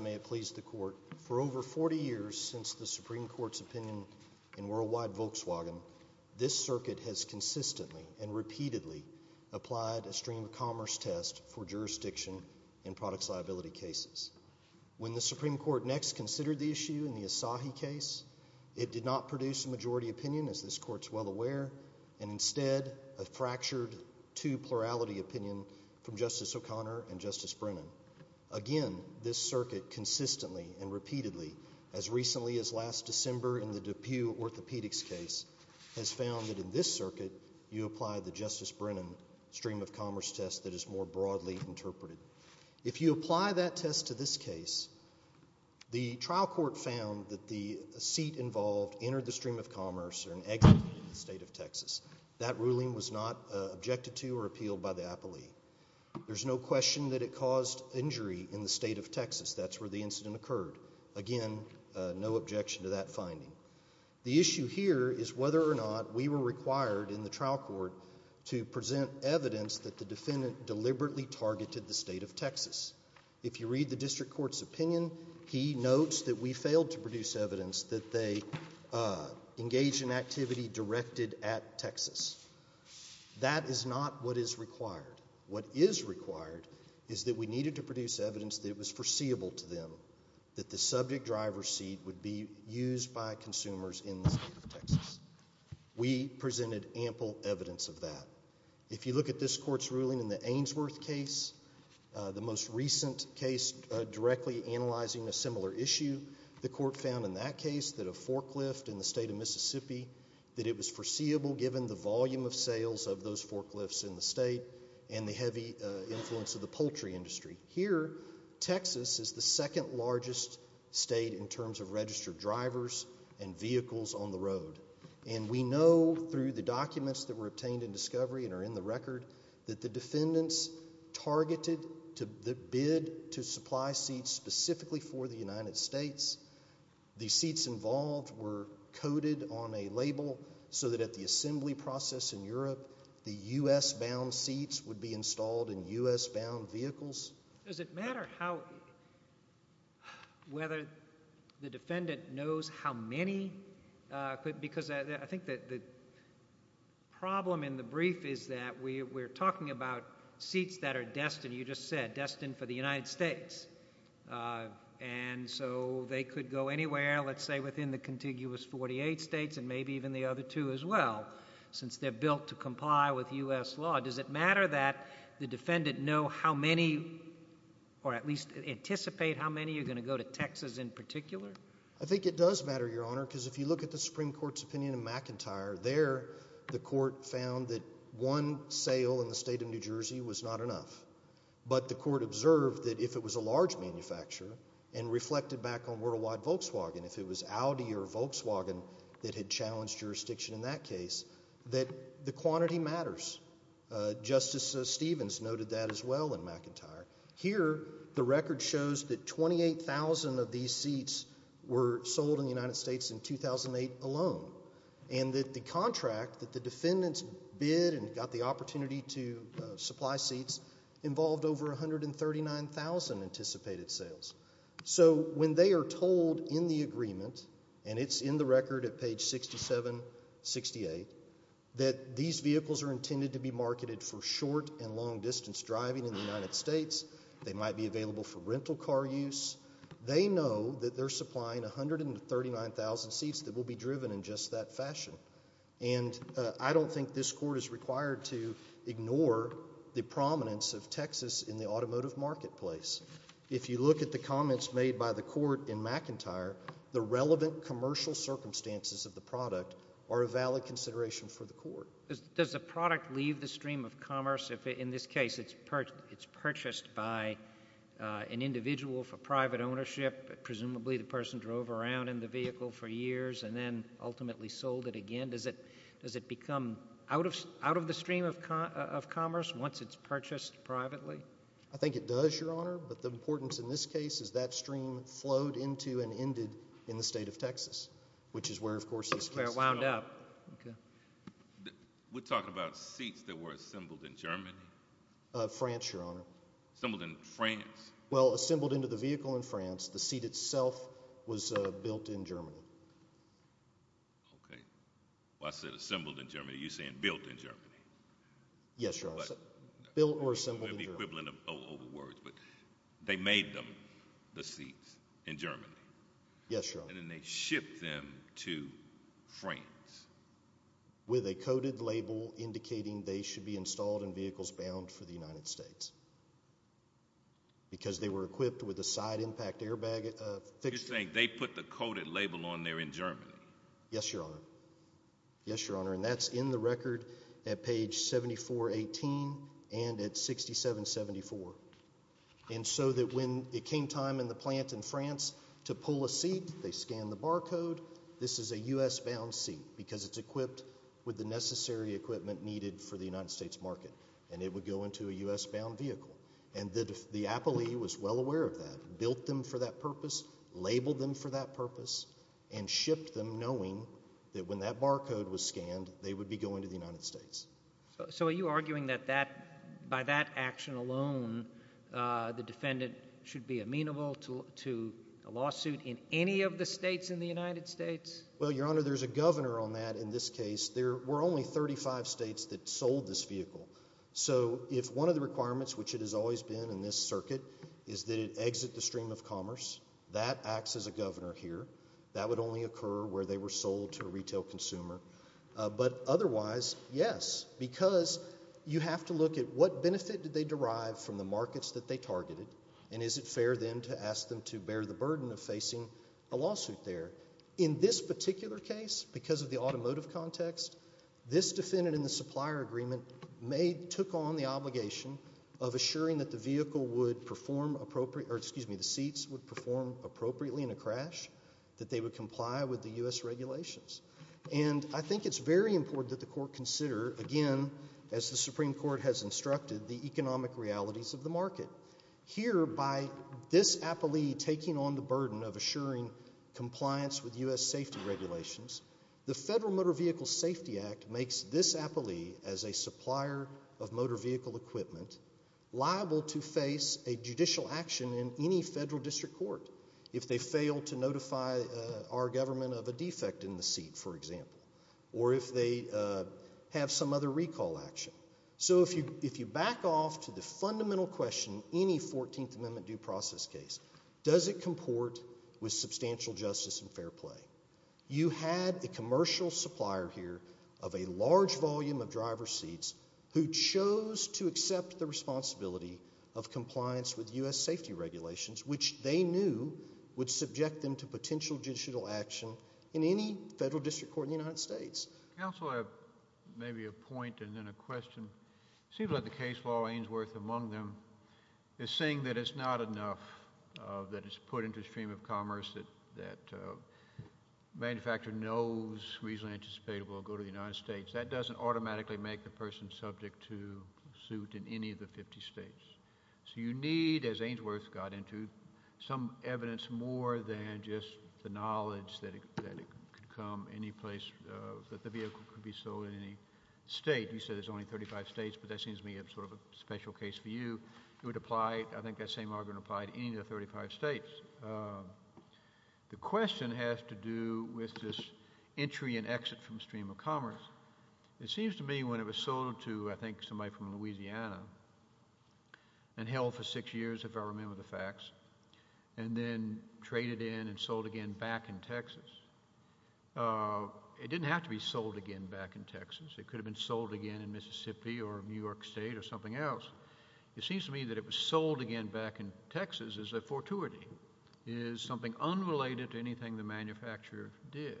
May it please the Court, for over 40 years since the Supreme Court's opinion in worldwide Volkswagen, this circuit has consistently and repeatedly applied a stream of commerce test for jurisdiction in products liability cases. When the Supreme Court next considered the issue in the Asahi case, it did not produce a majority opinion, as this Court is well aware, and instead a fractured two-plurality opinion from Justice O'Connor and Justice Brennan. Again, this circuit consistently and repeatedly, as recently as last December in the DePue orthopedics case, has found that in this circuit, you apply the Justice Brennan stream of commerce test that is more broadly interpreted. If you apply that test to this case, the trial court found that the seat involved entered the stream of commerce or an exit in the state of Texas. That ruling was not objected to or appealed by the appellee. There's no question that it caused injury in the state of Texas. That's where the incident occurred. Again, no objection to that finding. The issue here is whether or not we were required in the trial court to present evidence that the defendant deliberately targeted the state of Texas. If you read the district court's opinion, he notes that we failed to produce evidence that they engaged in activity directed at Texas. That is not what is required. What is required is that we needed to produce evidence that it was foreseeable to them that the subject driver's seat would be used by consumers in the state of Texas. We presented ample evidence of that. If you look at this court's ruling in the Ainsworth case, the most recent case directly analyzing a similar issue, the court found in that case that a forklift in the state of Mississippi, that it was foreseeable given the volume of sales of those forklifts in the state and the heavy influence of the poultry industry. Here, Texas is the second largest state in terms of registered drivers and vehicles on the road. We know through the documents that were obtained in discovery and are in the record that the defendants targeted the bid to supply seats specifically for the United States. The seats involved were coded on a label so that at the assembly process in Europe, the U.S. bound seats would be installed in U.S. bound vehicles. Does it matter how, whether the defendant knows how many? Because I think the problem in the brief is that we're talking about seats that are destined, you just said, destined for the United States. And so they could go anywhere, let's say within the contiguous 48 states and maybe even the U.S. law. Does it matter that the defendant know how many or at least anticipate how many are going to go to Texas in particular? I think it does matter, Your Honor, because if you look at the Supreme Court's opinion in McIntyre, there the court found that one sale in the state of New Jersey was not enough. But the court observed that if it was a large manufacturer and reflected back on worldwide Volkswagen, if it was Audi or Volkswagen that had challenged jurisdiction in that case, that the quantity matters. Justice Stevens noted that as well in McIntyre. Here the record shows that 28,000 of these seats were sold in the United States in 2008 alone. And that the contract that the defendants bid and got the opportunity to supply seats involved over 139,000 anticipated sales. So when they are told in the agreement, and it's in the record at page 67-68, that these vehicles are intended to be marketed for short and long distance driving in the United States, they might be available for rental car use, they know that they're supplying 139,000 seats that will be driven in just that fashion. And I don't think this court is required to ignore the prominence of Texas in the automotive marketplace. If you look at the comments made by the court in McIntyre, the relevant commercial circumstances of the product are a valid consideration for the court. Does the product leave the stream of commerce if in this case it's purchased by an individual for private ownership, presumably the person drove around in the vehicle for years and then ultimately sold it again? Does it become out of the stream of commerce once it's purchased privately? I think it does, Your Honor, but the importance in this case is that stream flowed into and ended in the state of Texas, which is where, of course, this case is held. Where it wound up. Okay. We're talking about seats that were assembled in Germany? France, Your Honor. Assembled in France? Well, assembled into the vehicle in France. The seat itself was built in Germany. Okay. Well, I said assembled in Germany. You're saying built in Germany? Yes, Your Honor. Built or assembled in Germany. They made them, the seats, in Germany? Yes, Your Honor. And then they shipped them to France? With a coded label indicating they should be installed in vehicles bound for the United States because they were equipped with a side impact airbag fixture. You're saying they put the coded label on there in Germany? Yes, Your Honor. Yes, Your Honor. And that's in the record at page 7418 and at 6774. And so that when it came time in the plant in France to pull a seat, they scanned the barcode. This is a U.S. bound seat because it's equipped with the necessary equipment needed for the United States market. And it would go into a U.S. bound vehicle. And the appellee was well aware of that. Built them for that purpose. Labeled them for that purpose. And shipped them knowing that when that barcode was scanned, they would be going to the United States. So are you arguing that that, by that action alone, the defendant should be amenable to a lawsuit in any of the states in the United States? Well, Your Honor, there's a governor on that in this case. There were only 35 states that sold this vehicle. So if one of the requirements, which it has always been in this circuit, is that it exit the stream of commerce, that acts as a governor here. That would only occur where they were sold to a retail consumer. But otherwise, yes. Because you have to look at what benefit did they derive from the markets that they targeted? And is it fair then to ask them to bear the burden of facing a lawsuit there? In this particular case, because of the automotive context, this defendant in the supplier agreement may, took on the obligation of assuring that the vehicle would perform appropriate, or excuse me, the seats would perform appropriately in a crash. That they would comply with the U.S. regulations. And I think it's very important that the court consider, again, as the Supreme Court has instructed, the economic realities of the market. Here, by this appellee taking on the burden of assuring compliance with U.S. safety regulations, the Federal Motor Vehicle Safety Act makes this appellee, as a supplier of motor vehicle equipment, liable to face a judicial action in any federal district court. If they fail to notify our government of a defect in the seat, for example. Or if they have some other recall action. So if you back off to the fundamental question in any 14th Amendment due process case, does it comport with substantial justice and fair play? You had the commercial supplier here, of a large volume of driver's seats, who chose to accept the responsibility of compliance with U.S. safety regulations, which they knew would subject them to potential judicial action in any federal district court in the United States. Counsel, I have maybe a point and then a question. It seems like the case law, Ainsworth among them, is saying that it's not enough that it's put into a stream of commerce that manufacturer knows reasonably anticipate it will go to the United States. That doesn't automatically make the person subject to suit in any of the 50 states. So you need, as Ainsworth got into, some evidence more than just the knowledge that it could come any place, that the vehicle could be sold in any state. You said there's only 35 states, but that seems to me sort of a special case for you. It would apply, I think that same argument would apply to any of the 35 states. The question has to do with this entry and exit from stream of commerce. It seems to me when it was sold to, I think, somebody from Louisiana and held for six years, if I remember the facts, and then traded in and sold again back in Texas, it didn't have to be sold again back in Texas. It could have been sold again in Mississippi or New York State or something else. It seems to me that it was sold again back in Texas is a fortuity, is something unrelated to anything the manufacturer did.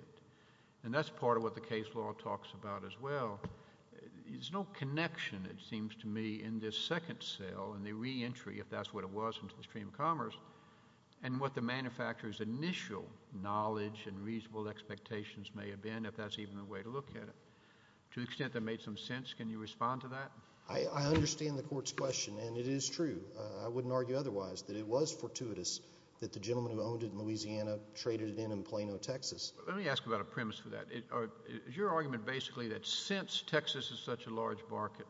And that's part of what the case law talks about as well. There's no connection, it seems to me, in this second sale and the reentry, if that's what it was, into the stream of commerce, and what the manufacturer's initial knowledge and reasonable expectations may have been, if that's even the way to look at it. To the extent that made some sense, can you respond to that? I understand the Court's question, and it is true. I wouldn't argue otherwise, that it was fortuitous that the gentleman who owned it in Louisiana traded it in in Plano, Texas. Let me ask about a premise for that. Is your argument basically that since Texas is such a large market,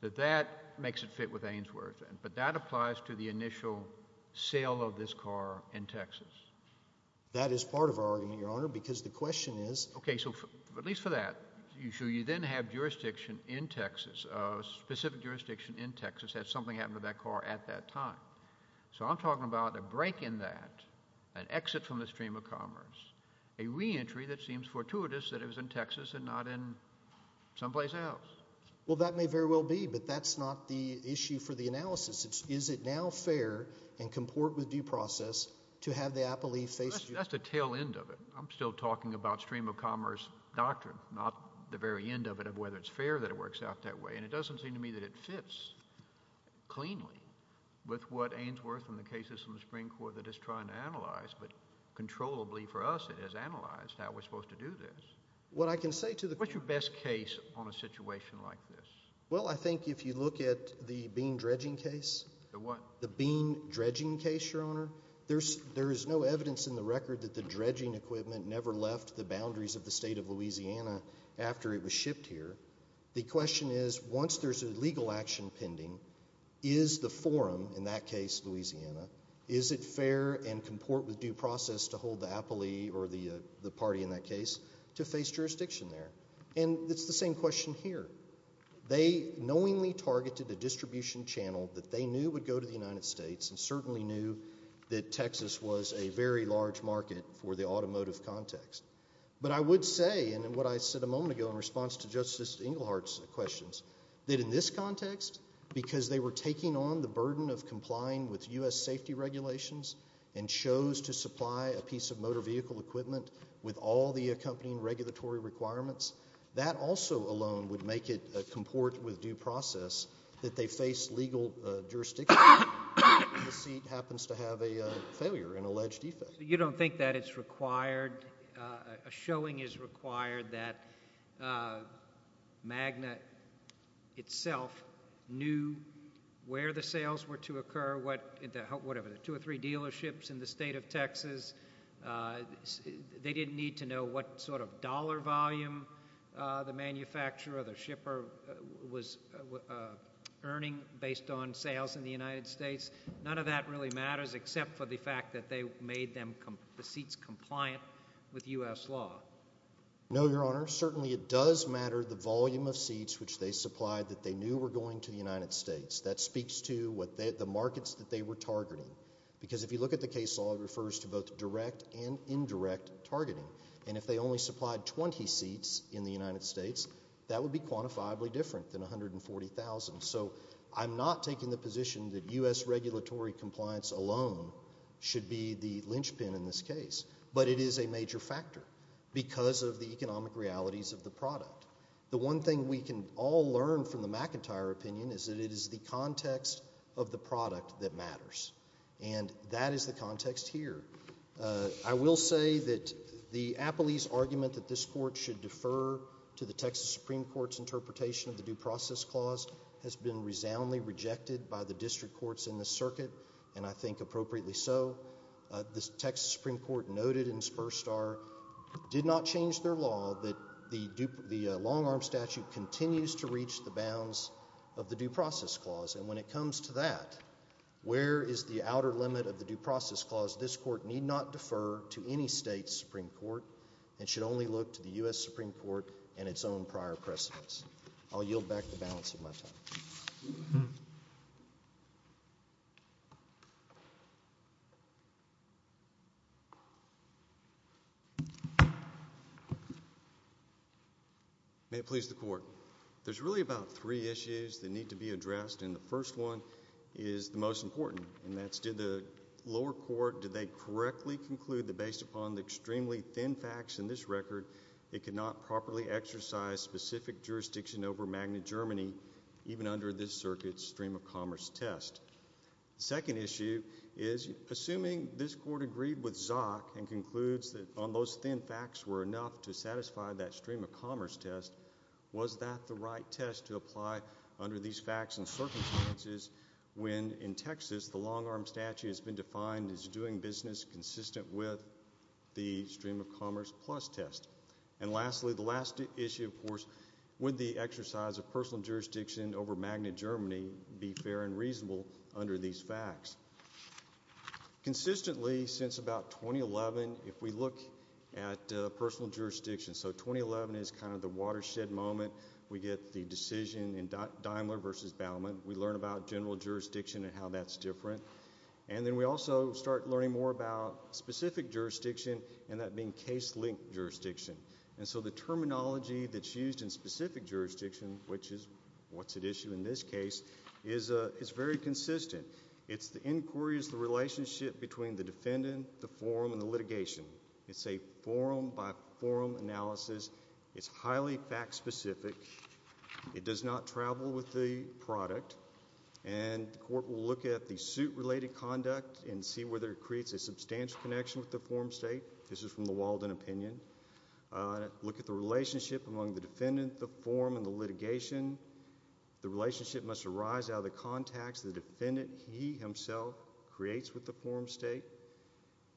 that that makes it fit with Ainsworth, but that applies to the initial sale of this car in Texas? That is part of our argument, Your Honor, because the question is— Okay, so at least for that, you then have jurisdiction in Texas, a specific jurisdiction in Texas that something happened to that car at that time. So I'm talking about a break in that, an exit from the stream of commerce, a reentry that seems fortuitous that it was in Texas and not in someplace else. Well, that may very well be, but that's not the issue for the analysis. Is it now fair and comport with due process to have the appellee face— That's the tail end of it. I'm still talking about stream of commerce doctrine, not the very end of it of whether it's fair that it works out that way, and it doesn't seem to me that it fits cleanly with what Ainsworth and the cases from the Supreme Court that it's trying to analyze, but controllably for us, it has analyzed how we're supposed to do this. What I can say to the— What's your best case on a situation like this? Well, I think if you look at the bean dredging case— The what? The bean dredging case, Your Honor, there is no evidence in the record that the dredging equipment never left the boundaries of the state of Louisiana after it was shipped here. The question is, once there's a legal action pending, is the forum, in that case Louisiana, is it fair and comport with due process to hold the appellee or the party in that case to face jurisdiction there? And it's the same question here. They knowingly targeted a distribution channel that they knew would go to the United States and certainly knew that Texas was a very large market for the automotive context. But I would say, and what I said a moment ago in response to Justice Englehart's questions, that in this context, because they were taking on the burden of complying with U.S. safety regulations and chose to supply a piece of motor vehicle equipment with all the accompanying regulatory requirements, that also alone would make it comport with due process that they face legal jurisdiction and the seat happens to have a failure, an alleged defect. You don't think that it's required, a showing is required that MAGNA itself knew where the sales were to occur, what, whatever, the two or three dealerships in the state of Texas, they didn't need to know what sort of dollar volume the manufacturer or the shipper was earning based on sales in the United States. None of that really matters except for the fact that they made the seats compliant with U.S. law. No, Your Honor. Certainly it does matter the volume of seats which they supplied that they knew were going to the United States. That speaks to the markets that they were targeting. Because if you look at the case law, it refers to both direct and indirect targeting. And if they only supplied 20 seats in the United States, that would be quantifiably different than 140,000. So I'm not taking the position that U.S. regulatory compliance alone should be the linchpin in this case. But it is a major factor because of the economic realities of the product. The one thing we can all learn from the McIntyre opinion is that it is the context of the product that matters. And that is the context here. I will say that the Appley's argument that this court should defer to the Texas Supreme Court's interpretation of the Due Process Clause has been resoundingly rejected by the district courts in this circuit, and I think appropriately so. The Texas Supreme Court noted in Spur Star did not change their law that the long-arm statute continues to reach the bounds of the Due Process Clause. And when it comes to that, where is the outer limit of the Due Process Clause? This court need not defer to any state's Supreme Court and should only look to the U.S. Supreme Court and its own prior precedents. I'll yield back the balance of my time. May it please the Court. There's really about three issues that need to be addressed, and the first one is the most important. And that's did the lower court, did they correctly conclude that based upon the extremely thin facts in this record, it could not properly exercise specific jurisdiction over Magna Germany, even under this circuit's stream-of-commerce test? The second issue is, assuming this court agreed with Zock and concludes that those thin facts were enough to satisfy that stream-of-commerce test, was that the right test to apply under these facts and circumstances when, in Texas, the long-arm statute has been defined as doing business consistent with the stream-of-commerce plus test? And lastly, the last issue, of course, would the exercise of personal jurisdiction over Magna Germany be fair and reasonable under these facts? Consistently, since about 2011, if we look at personal jurisdiction, so 2011 is kind of the watershed moment. We get the decision in Daimler versus Baumann. We learn about general jurisdiction and how that's different. And then we also start learning more about specific jurisdiction and that being case-linked jurisdiction. And so the terminology that's used in specific jurisdiction, which is what's at issue in this case, is very consistent. It's the inquiries, the relationship between the defendant, the forum, and the litigation. It's a forum-by-forum analysis. It's highly fact-specific. It does not travel with the product. And the court will look at the suit-related conduct and see whether it creates a substantial connection with the forum state. This is from the Walden opinion. Look at the relationship among the defendant, the forum, and the litigation. The relationship must arise out of the contacts the defendant, he himself, creates with the forum state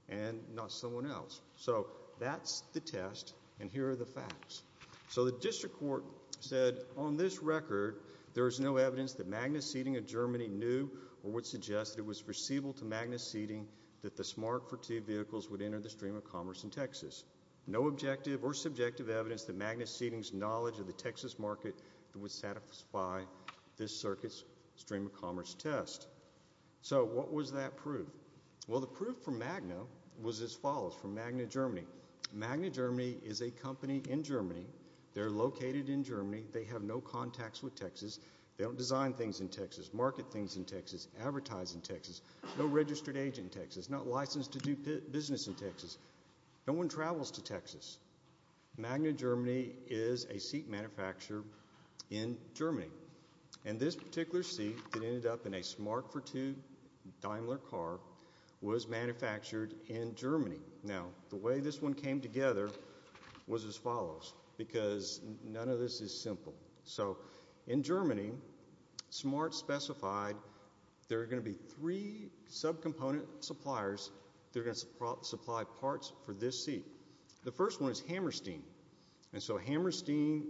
and not someone else. So that's the test, and here are the facts. So the district court said, on this record, there is no evidence that Magna Seeding of Germany knew or would suggest that it was foreseeable to Magna Seeding that the Smart for T vehicles would enter the stream of commerce in Texas. No objective or subjective evidence that Magna Seeding's knowledge of the Texas market would satisfy this circuit's stream of commerce test. So what was that proof? Well, the proof from Magna was as follows, from Magna Germany. Magna Germany is a company in Germany. They're located in Germany. They have no contacts with Texas. They don't design things in Texas, market things in Texas, advertise in Texas. No registered agent in Texas. Not licensed to do business in Texas. No one travels to Texas. Magna Germany is a seat manufacturer in Germany, and this particular seat that ended up in a Smart for T Daimler car was manufactured in Germany. Now, the way this one came together was as follows, because none of this is simple. So in Germany, Smart specified there are going to be three subcomponent suppliers that are going to supply parts for this seat. The first one is Hammerstein. And so Hammerstein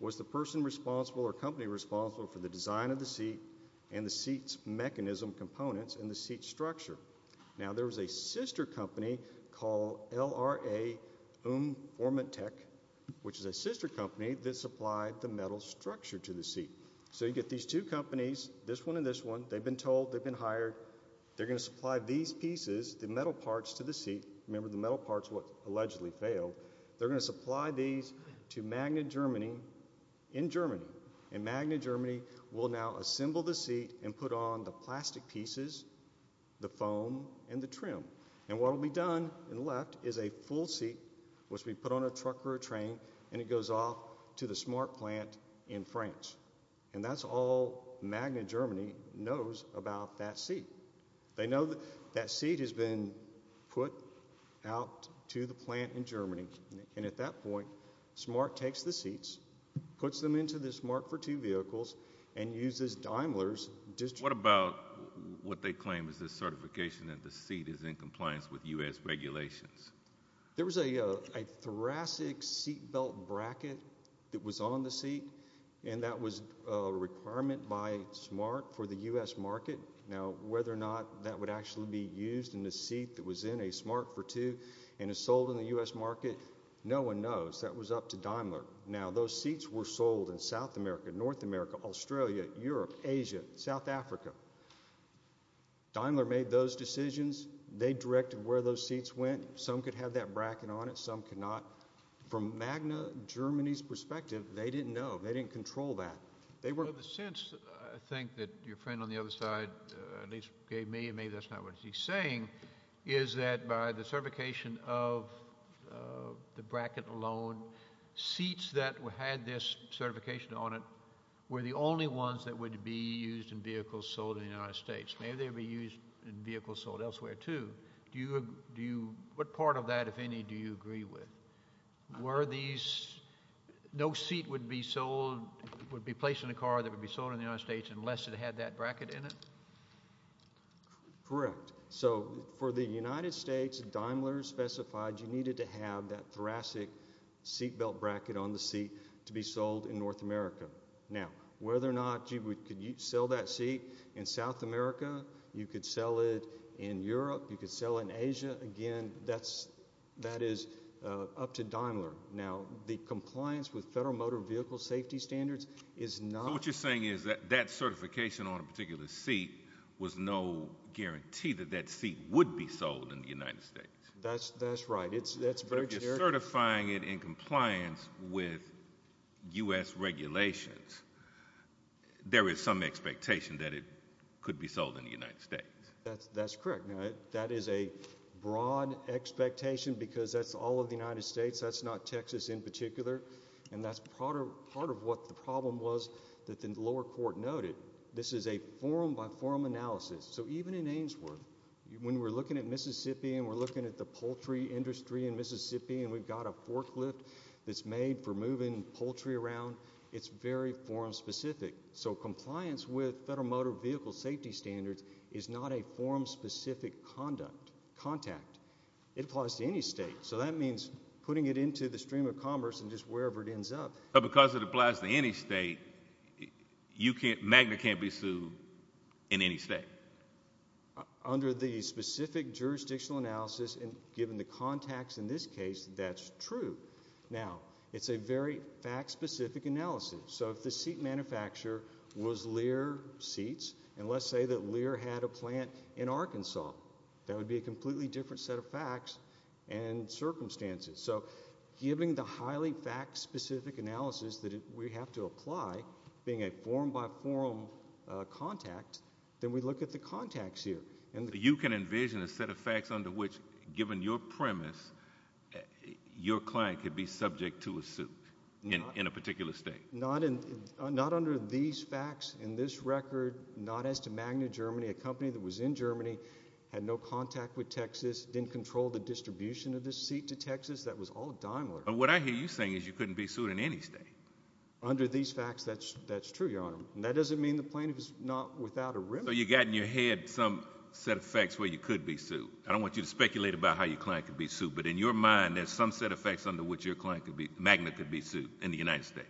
was the person responsible or company responsible for the design of the seat and the seat's mechanism components and the seat structure. Now, there was a sister company called LRA Unformatech, which is a sister company that supplied the metal structure to the seat. So you get these two companies, this one and this one. They've been told. They've been hired. They're going to supply these pieces, the metal parts to the seat. Remember, the metal parts allegedly failed. They're going to supply these to Magna Germany in Germany. And Magna Germany will now assemble the seat and put on the plastic pieces, the foam and the trim. And what will be done and left is a full seat, which we put on a truck or a train, and it goes off to the Smart plant in France. And that's all Magna Germany knows about that seat. They know that seat has been put out to the plant in Germany. And at that point, Smart takes the seats, puts them into the Smart for Two vehicles, and uses Daimler's district. What about what they claim is the certification that the seat is in compliance with U.S. regulations? There was a thoracic seat belt bracket that was on the seat, and that was a requirement by Smart for the U.S. market. Now, whether or not that would actually be used in a seat that was in a Smart for Two and is sold in the U.S. market, no one knows. That was up to Daimler. Now, those seats were sold in South America, North America, Australia, Europe, Asia, South Africa. Daimler made those decisions. They directed where those seats went. Some could have that bracket on it. Some could not. From Magna Germany's perspective, they didn't know. They didn't control that. The sense, I think, that your friend on the other side at least gave me, and maybe that's not what he's saying, is that by the certification of the bracket alone, seats that had this certification on it were the only ones that would be used in vehicles sold in the United States. Maybe they would be used in vehicles sold elsewhere, too. What part of that, if any, do you agree with? Were these, no seat would be sold, would be placed in a car that would be sold in the United States unless it had that bracket in it? Correct. So for the United States, Daimler specified you needed to have that thoracic seat belt bracket on the seat to be sold in North America. Now, whether or not you could sell that seat in South America, you could sell it in Europe, you could sell it in Asia, again, that is up to Daimler. Now, the compliance with Federal Motor Vehicle Safety Standards is not- So what you're saying is that that certification on a particular seat was no guarantee that that seat would be sold in the United States? That's right. That's very true. But if you're certifying it in compliance with U.S. regulations, there is some expectation that it could be sold in the United States. That's correct. That is a broad expectation because that's all of the United States, that's not Texas in particular, and that's part of what the problem was that the lower court noted. This is a form by form analysis. So even in Ainsworth, when we're looking at Mississippi and we're looking at the poultry industry in Mississippi and we've got a forklift that's made for moving poultry around, it's very form specific. So compliance with Federal Motor Vehicle Safety Standards is not a form specific contact. It applies to any state. So that means putting it into the stream of commerce and just wherever it ends up. But because it applies to any state, Magna can't be sued in any state? Under the specific jurisdictional analysis and given the contacts in this case, that's true. Now, it's a very fact specific analysis. So if the seat manufacturer was Lear Seats and let's say that Lear had a plant in Arkansas, that would be a completely different set of facts and circumstances. So given the highly fact specific analysis that we have to apply, being a form by form contact, then we look at the contacts here. You can envision a set of facts under which, given your premise, your client could be subject to a suit in a particular state? Not under these facts in this record, not as to Magna, Germany. A company that was in Germany, had no contact with Texas, didn't control the distribution of this seat to Texas. That was all Daimler. But what I hear you saying is you couldn't be sued in any state. Under these facts, that's true, Your Honor. And that doesn't mean the plaintiff is not without a remedy. So you've got in your head some set of facts where you could be sued. I don't want you to speculate about how your client could be sued, but in your mind there's some set of facts under which your client could be sued, Magna could be sued, in the United States.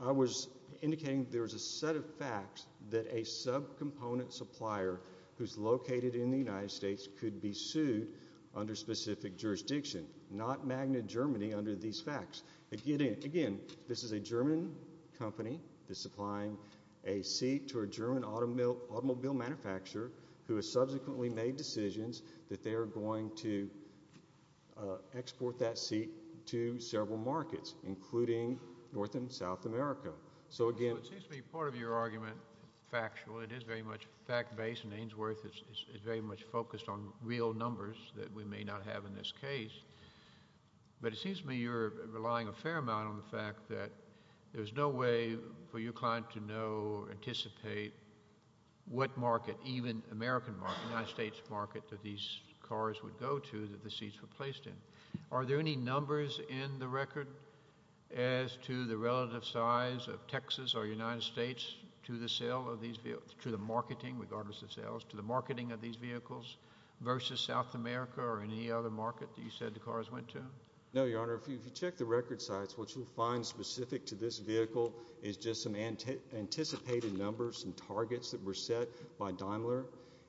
I was indicating there's a set of facts that a subcomponent supplier who's located in the United States could be sued under specific jurisdiction, not Magna, Germany, under these facts. Again, this is a German company that's supplying a seat to a German automobile manufacturer who has subsequently made decisions that they are going to export that seat to several markets, including North and South America. So again— Well, it seems to me part of your argument is factual. It is very much fact-based, and Ainsworth is very much focused on real numbers that we may not have in this case. But it seems to me you're relying a fair amount on the fact that there's no way for your client to know or anticipate what market, even American market, United States market, that these cars would go to that the seats were placed in. Are there any numbers in the record as to the relative size of Texas or United States to the marketing, regardless of sales, to the marketing of these vehicles versus South America or any other market that you said the cars went to? No, Your Honor. If you check the record sites, what you'll find specific to this vehicle is just some anticipated numbers, some targets that were set by Daimler,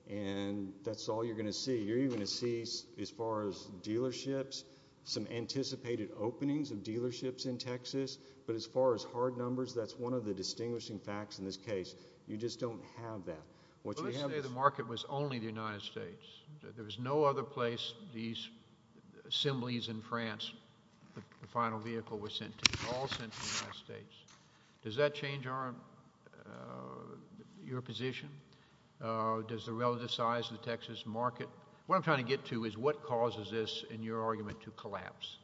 and that's all you're going to see. You're even going to see, as far as dealerships, some anticipated openings of dealerships in Texas. But as far as hard numbers, that's one of the distinguishing facts in this case. You just don't have that. Let's say the market was only the United States. There was no other place these assemblies in France the final vehicle was sent to. It was all sent to the United States. Does that change your position? Does the relative size of the Texas market? What I'm trying to get to is what causes this, in your argument, to collapse?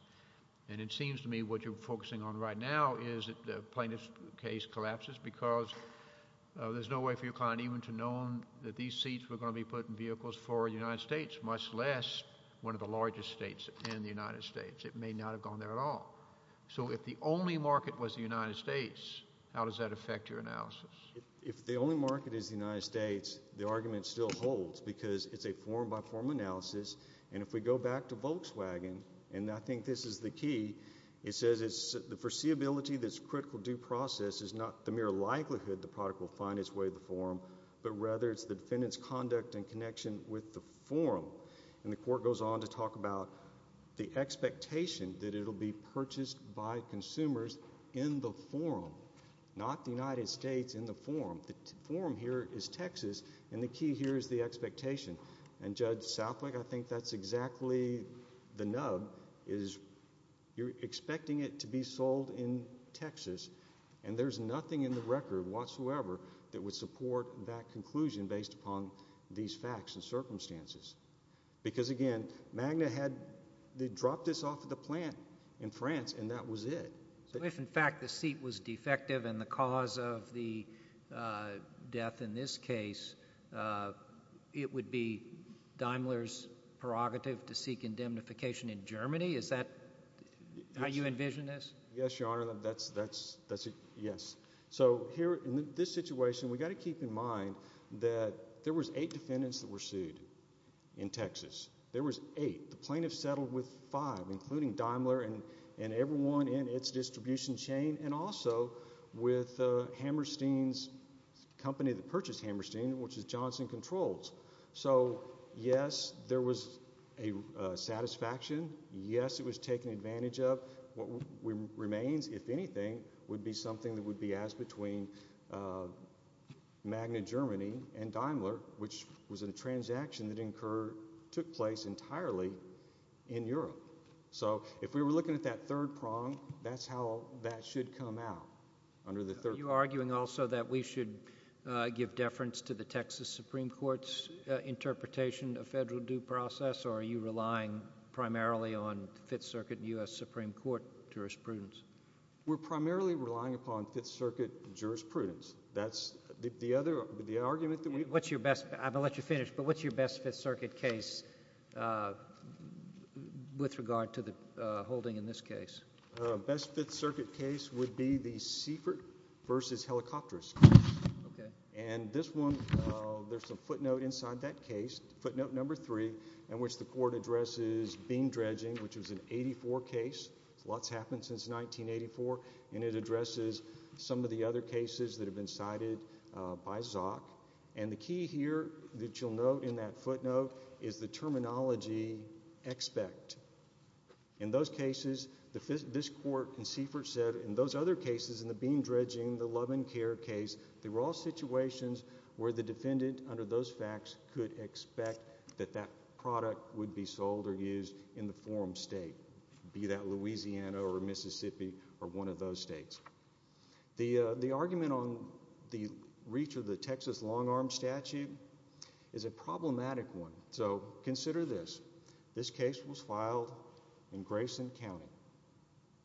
And it seems to me what you're focusing on right now is that the plaintiff's case collapses because there's no way for your client even to know that these seats were going to be put in vehicles for the United States, much less one of the largest states in the United States. It may not have gone there at all. So if the only market was the United States, how does that affect your analysis? If the only market is the United States, the argument still holds because it's a form-by-form analysis. And if we go back to Volkswagen, and I think this is the key, it says the foreseeability that's critical due process is not the mere likelihood the product will find its way to the forum, but rather it's the defendant's conduct and connection with the forum. And the court goes on to talk about the expectation that it will be purchased by consumers in the forum, not the United States in the forum. The forum here is Texas, and the key here is the expectation. And Judge Southwick, I think that's exactly the nub is you're expecting it to be sold in Texas, and there's nothing in the record whatsoever that would support that conclusion based upon these facts and circumstances. Because, again, Magna had dropped this off at the plant in France, and that was it. If, in fact, the seat was defective and the cause of the death in this case, it would be Daimler's prerogative to seek indemnification in Germany? Is that how you envision this? Yes, Your Honor, that's it, yes. So here in this situation, we've got to keep in mind that there was eight defendants that were sued in Texas. There was eight. The plaintiffs settled with five, including Daimler and everyone in its distribution chain, and also with Hammerstein's company that purchased Hammerstein, which is Johnson Controls. So, yes, there was a satisfaction. Yes, it was taken advantage of. What remains, if anything, would be something that would be asked between Magna Germany and Daimler, which was a transaction that took place entirely in Europe. So if we were looking at that third prong, that's how that should come out, under the third prong. Are you arguing also that we should give deference to the Texas Supreme Court's interpretation of federal due process, or are you relying primarily on Fifth Circuit and U.S. Supreme Court jurisprudence? We're primarily relying upon Fifth Circuit jurisprudence. That's the other argument that we have. I'm going to let you finish, but what's your best Fifth Circuit case with regard to the holding in this case? Best Fifth Circuit case would be the Siefert v. Helicopteris case. And this one, there's a footnote inside that case, footnote number three, in which the court addresses beam dredging, which was an 84 case. A lot's happened since 1984, and it addresses some of the other cases that have been cited by Zok. And the key here that you'll note in that footnote is the terminology expect. In those cases, this court in Siefert said in those other cases, in the beam dredging, the love and care case, they were all situations where the defendant, under those facts, could expect that that product would be sold or used in the forum state, be that Louisiana or Mississippi or one of those states. The argument on the reach of the Texas long-arm statute is a problematic one. So consider this. This case was filed in Grayson County,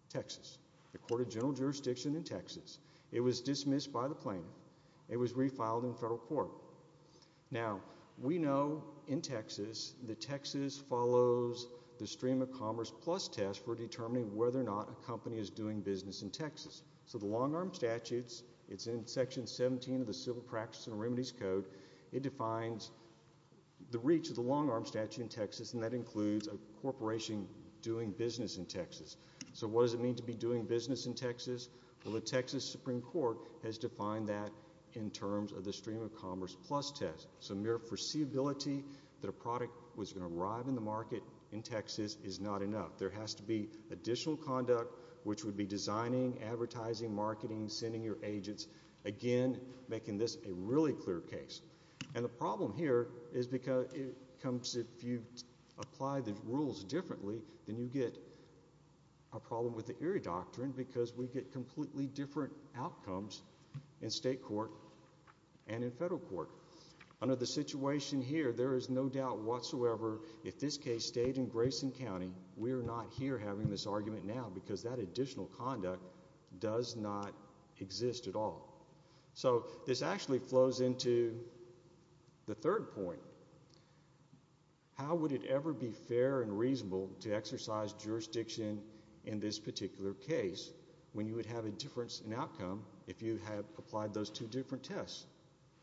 Texas, the court of general jurisdiction in Texas. It was dismissed by the plaintiff. It was refiled in federal court. Now, we know in Texas that Texas follows the stream of commerce plus test for determining whether or not a company is doing business in Texas. So the long-arm statutes, it's in section 17 of the Civil Practice and Remedies Code. It defines the reach of the long-arm statute in Texas, and that includes a corporation doing business in Texas. Well, the Texas Supreme Court has defined that in terms of the stream of commerce plus test. So mere foreseeability that a product was going to arrive in the market in Texas is not enough. There has to be additional conduct, which would be designing, advertising, marketing, sending your agents, again, making this a really clear case. And the problem here is if you apply the rules differently, then you get a problem with the Erie Doctrine because we get completely different outcomes in state court and in federal court. Under the situation here, there is no doubt whatsoever if this case stayed in Grayson County, we are not here having this argument now because that additional conduct does not exist at all. So this actually flows into the third point. How would it ever be fair and reasonable to exercise jurisdiction in this particular case when you would have a difference in outcome if you had applied those two different tests?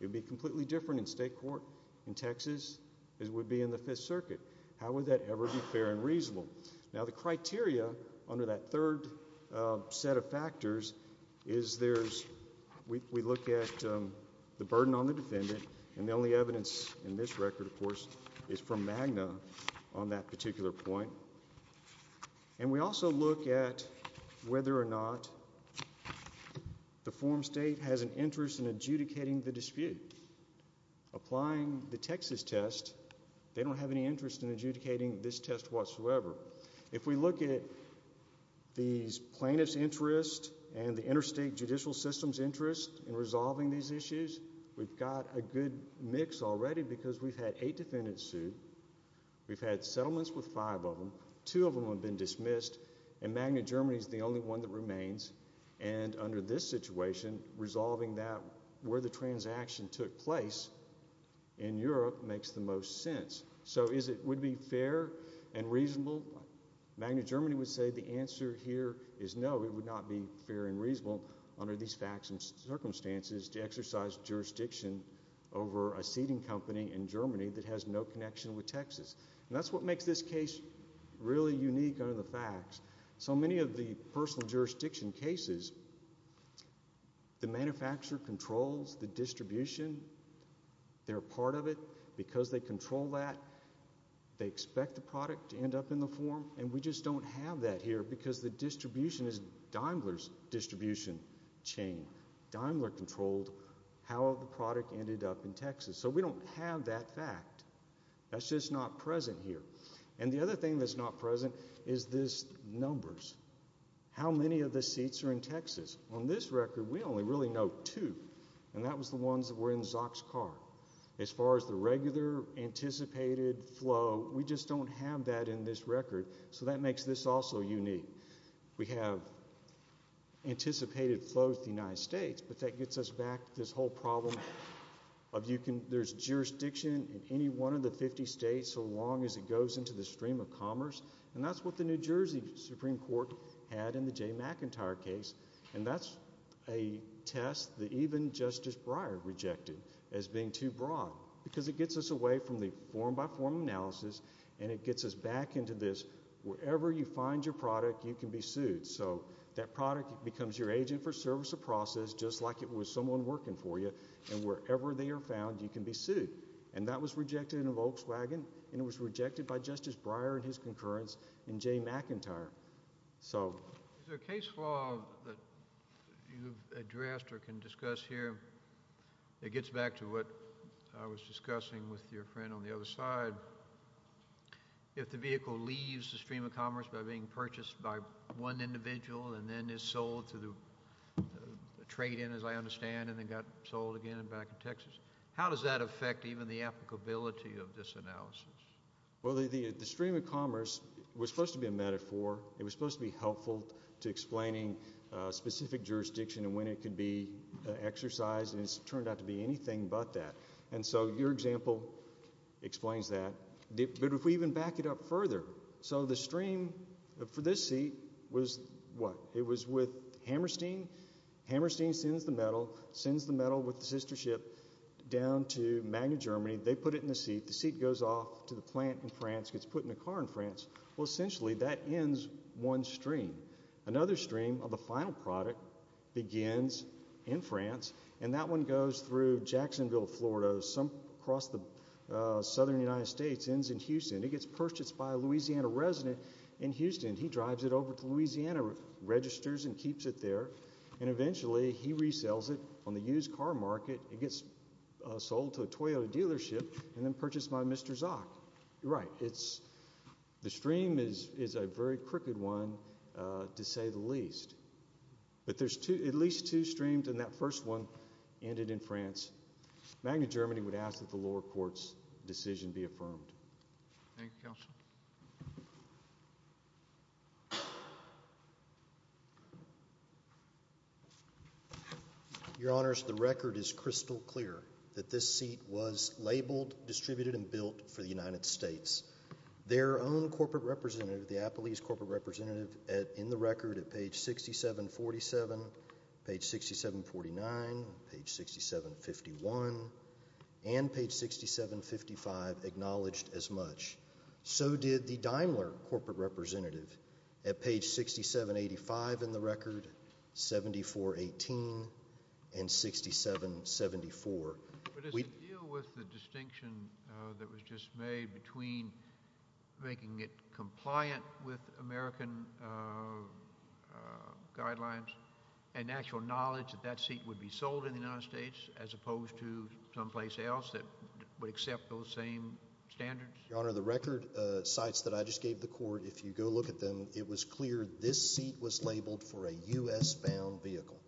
It would be completely different in state court in Texas as it would be in the Fifth Circuit. How would that ever be fair and reasonable? Now, the criteria under that third set of factors is there's... We look at the burden on the defendant, and the only evidence in this record, of course, is from MAGNA on that particular point. And we also look at whether or not the form state has an interest in adjudicating the dispute. Applying the Texas test, they don't have any interest in adjudicating this test whatsoever. If we look at these plaintiff's interest and the interstate judicial system's interest in resolving these issues, we've got a good mix already because we've had eight defendants sued. We've had settlements with five of them. Two of them have been dismissed, and MAGNA Germany is the only one that remains. And under this situation, resolving that where the transaction took place in Europe makes the most sense. So would it be fair and reasonable? MAGNA Germany would say the answer here is no. It would not be fair and reasonable under these facts and circumstances to exercise jurisdiction over a seating company in Germany that has no connection with Texas. And that's what makes this case really unique under the facts. So many of the personal jurisdiction cases, the manufacturer controls the distribution. They're a part of it because they control that. They expect the product to end up in the form, and we just don't have that here because the distribution is Daimler's distribution chain. Daimler controlled how the product ended up in Texas. So we don't have that fact. That's just not present here. And the other thing that's not present is this numbers. How many of the seats are in Texas? On this record, we only really know two, and that was the ones that were in Zock's car. As far as the regular anticipated flow, we just don't have that in this record, so that makes this also unique. We have anticipated flows to the United States, but that gets us back to this whole problem of there's jurisdiction in any one of the 50 states so long as it goes into the stream of commerce, and that's what the New Jersey Supreme Court had in the Jay McIntyre case, and that's a test that even Justice Breyer rejected as being too broad because it gets us away from the form-by-form analysis, and it gets us back into this wherever you find your product, you can be sued. So that product becomes your agent for service of process just like it was someone working for you, and wherever they are found, you can be sued, and that was rejected in a Volkswagen, and it was rejected by Justice Breyer and his concurrence in Jay McIntyre. Is there a case law that you've addressed or can discuss here that gets back to what I was discussing with your friend on the other side? If the vehicle leaves the stream of commerce by being purchased by one individual and then is sold to the trade-in, as I understand, and then got sold again back in Texas, how does that affect even the applicability of this analysis? Well, the stream of commerce was supposed to be a metaphor. It was supposed to be helpful to explaining specific jurisdiction and when it could be exercised, and it's turned out to be anything but that. And so your example explains that. But if we even back it up further, so the stream for this seat was what? It was with Hammerstein. Hammerstein sends the metal with the sister ship down to Magna, Germany. They put it in the seat. The seat goes off to the plant in France, gets put in a car in France. Well, essentially that ends one stream. Another stream of the final product begins in France, and that one goes through Jacksonville, Florida, some across the southern United States, ends in Houston. It gets purchased by a Louisiana resident in Houston. He drives it over to Louisiana, registers and keeps it there, and eventually he resells it on the used car market. It gets sold to a Toyota dealership and then purchased by Mr. Zock. Right. The stream is a very crooked one, to say the least. But there's at least two streams, and that first one ended in France. Magna, Germany would ask that the lower court's decision be affirmed. Thank you, Counsel. Your Honors, the record is crystal clear that this seat was labeled, distributed, and built for the United States. Their own corporate representative, the Applebee's corporate representative, in the record at page 6747, page 6749, page 6751, and page 6755, were not acknowledged as much. So did the Daimler corporate representative at page 6785 in the record, 7418, and 6774. But does it deal with the distinction that was just made between making it compliant with American guidelines and actual knowledge that that seat would be sold in the United States as opposed to someplace else that would accept those same standards? Your Honor, the record cites that I just gave the court. If you go look at them, it was clear this seat was labeled for a U.S.-bound vehicle,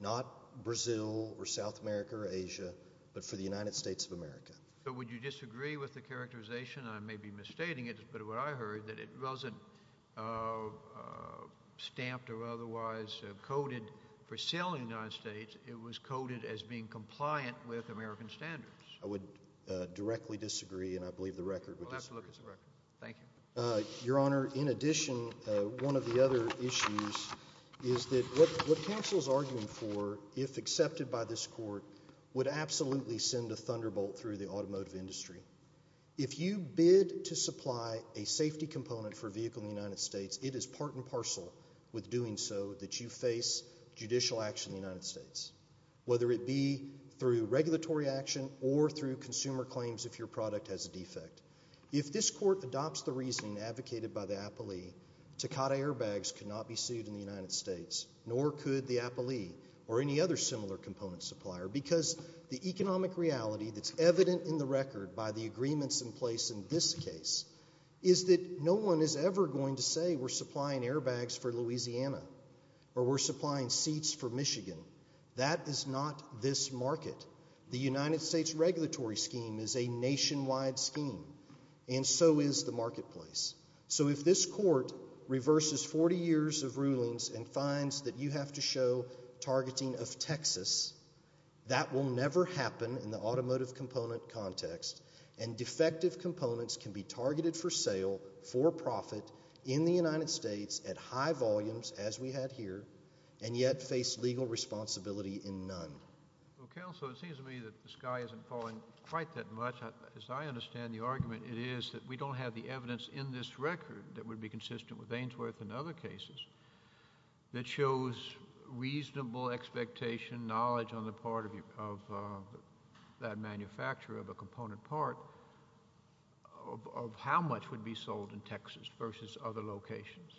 not Brazil or South America or Asia, but for the United States of America. But would you disagree with the characterization? I may be misstating it, but what I heard, that it wasn't stamped or otherwise coded for sale in the United States. It was coded as being compliant with American standards. I would directly disagree, and I believe the record would disagree. Thank you. Your Honor, in addition, one of the other issues is that what counsel is arguing for, if accepted by this court, would absolutely send a thunderbolt through the automotive industry. If you bid to supply a safety component for a vehicle in the United States, it is part and parcel with doing so that you face judicial action in the United States, whether it be through regulatory action or through consumer claims if your product has a defect. If this court adopts the reasoning advocated by the appellee, Takata airbags could not be sued in the United States, nor could the appellee or any other similar component supplier, because the economic reality that's evident in the record by the agreements in place in this case is that no one is ever going to say we're supplying airbags for Louisiana or we're supplying seats for Michigan. That is not this market. The United States regulatory scheme is a nationwide scheme, and so is the marketplace. So if this court reverses 40 years of rulings and finds that you have to show targeting of Texas, that will never happen in the automotive component context, and defective components can be targeted for sale for profit in the United States at high volumes, as we had here, and yet face legal responsibility in none. Counsel, it seems to me that the sky isn't falling quite that much. As I understand the argument, it is that we don't have the evidence in this record that would be consistent with Ainsworth and other cases that shows reasonable expectation, knowledge on the part of that manufacturer of a component part of how much would be sold in Texas versus other locations.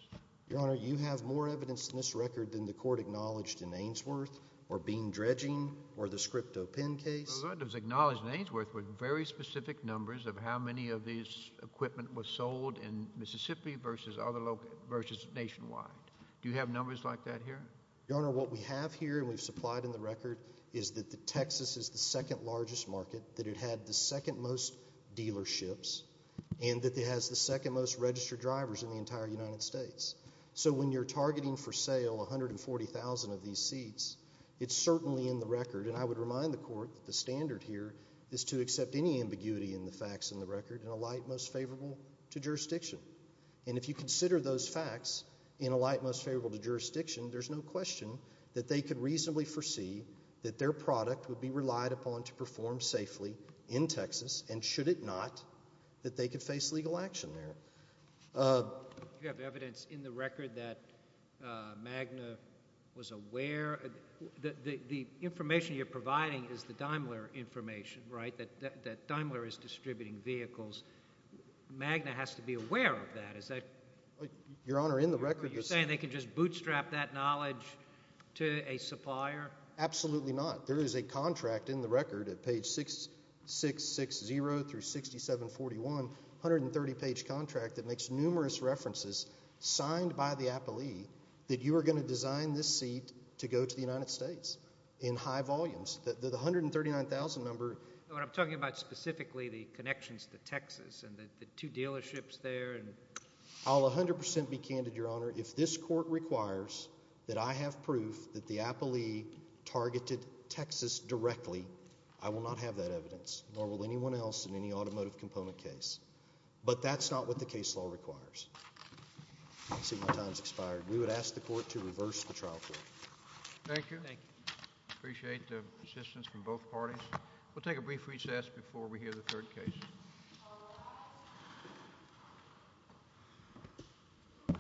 Your Honor, you have more evidence in this record than the court acknowledged in Ainsworth or Bean Dredging or the Scripto pen case. The record that was acknowledged in Ainsworth were very specific numbers of how many of these equipment was sold in Mississippi versus nationwide. Do you have numbers like that here? Your Honor, what we have here and we've supplied in the record is that Texas is the second largest market, that it had the second most dealerships, and that it has the second most registered drivers in the entire United States. So when you're targeting for sale 140,000 of these seats, it's certainly in the record, and I would remind the court that the standard here is to accept any ambiguity in the facts in the record in a light most favorable to jurisdiction. And if you consider those facts in a light most favorable to jurisdiction, there's no question that they could reasonably foresee that their product would be relied upon to perform safely in Texas, and should it not, that they could face legal action there. Do you have evidence in the record that MAGNA was aware? The information you're providing is the Daimler information, right, that Daimler is distributing vehicles. MAGNA has to be aware of that. Your Honor, in the record... Are you saying they could just bootstrap that knowledge to a supplier? Absolutely not. There is a contract in the record at page 660 through 6741, 130-page contract that makes numerous references signed by the appellee that you are going to design this seat to go to the United States in high volumes. The 139,000 number... I'm talking about specifically the connections to Texas and the two dealerships there. I'll 100% be candid, Your Honor. If this court requires that I have proof that the appellee targeted Texas directly, I will not have that evidence, nor will anyone else in any automotive component case. But that's not what the case law requires. I see my time has expired. We would ask the court to reverse the trial form. Thank you. Thank you. Appreciate the assistance from both parties. We'll take a brief recess before we hear the third case.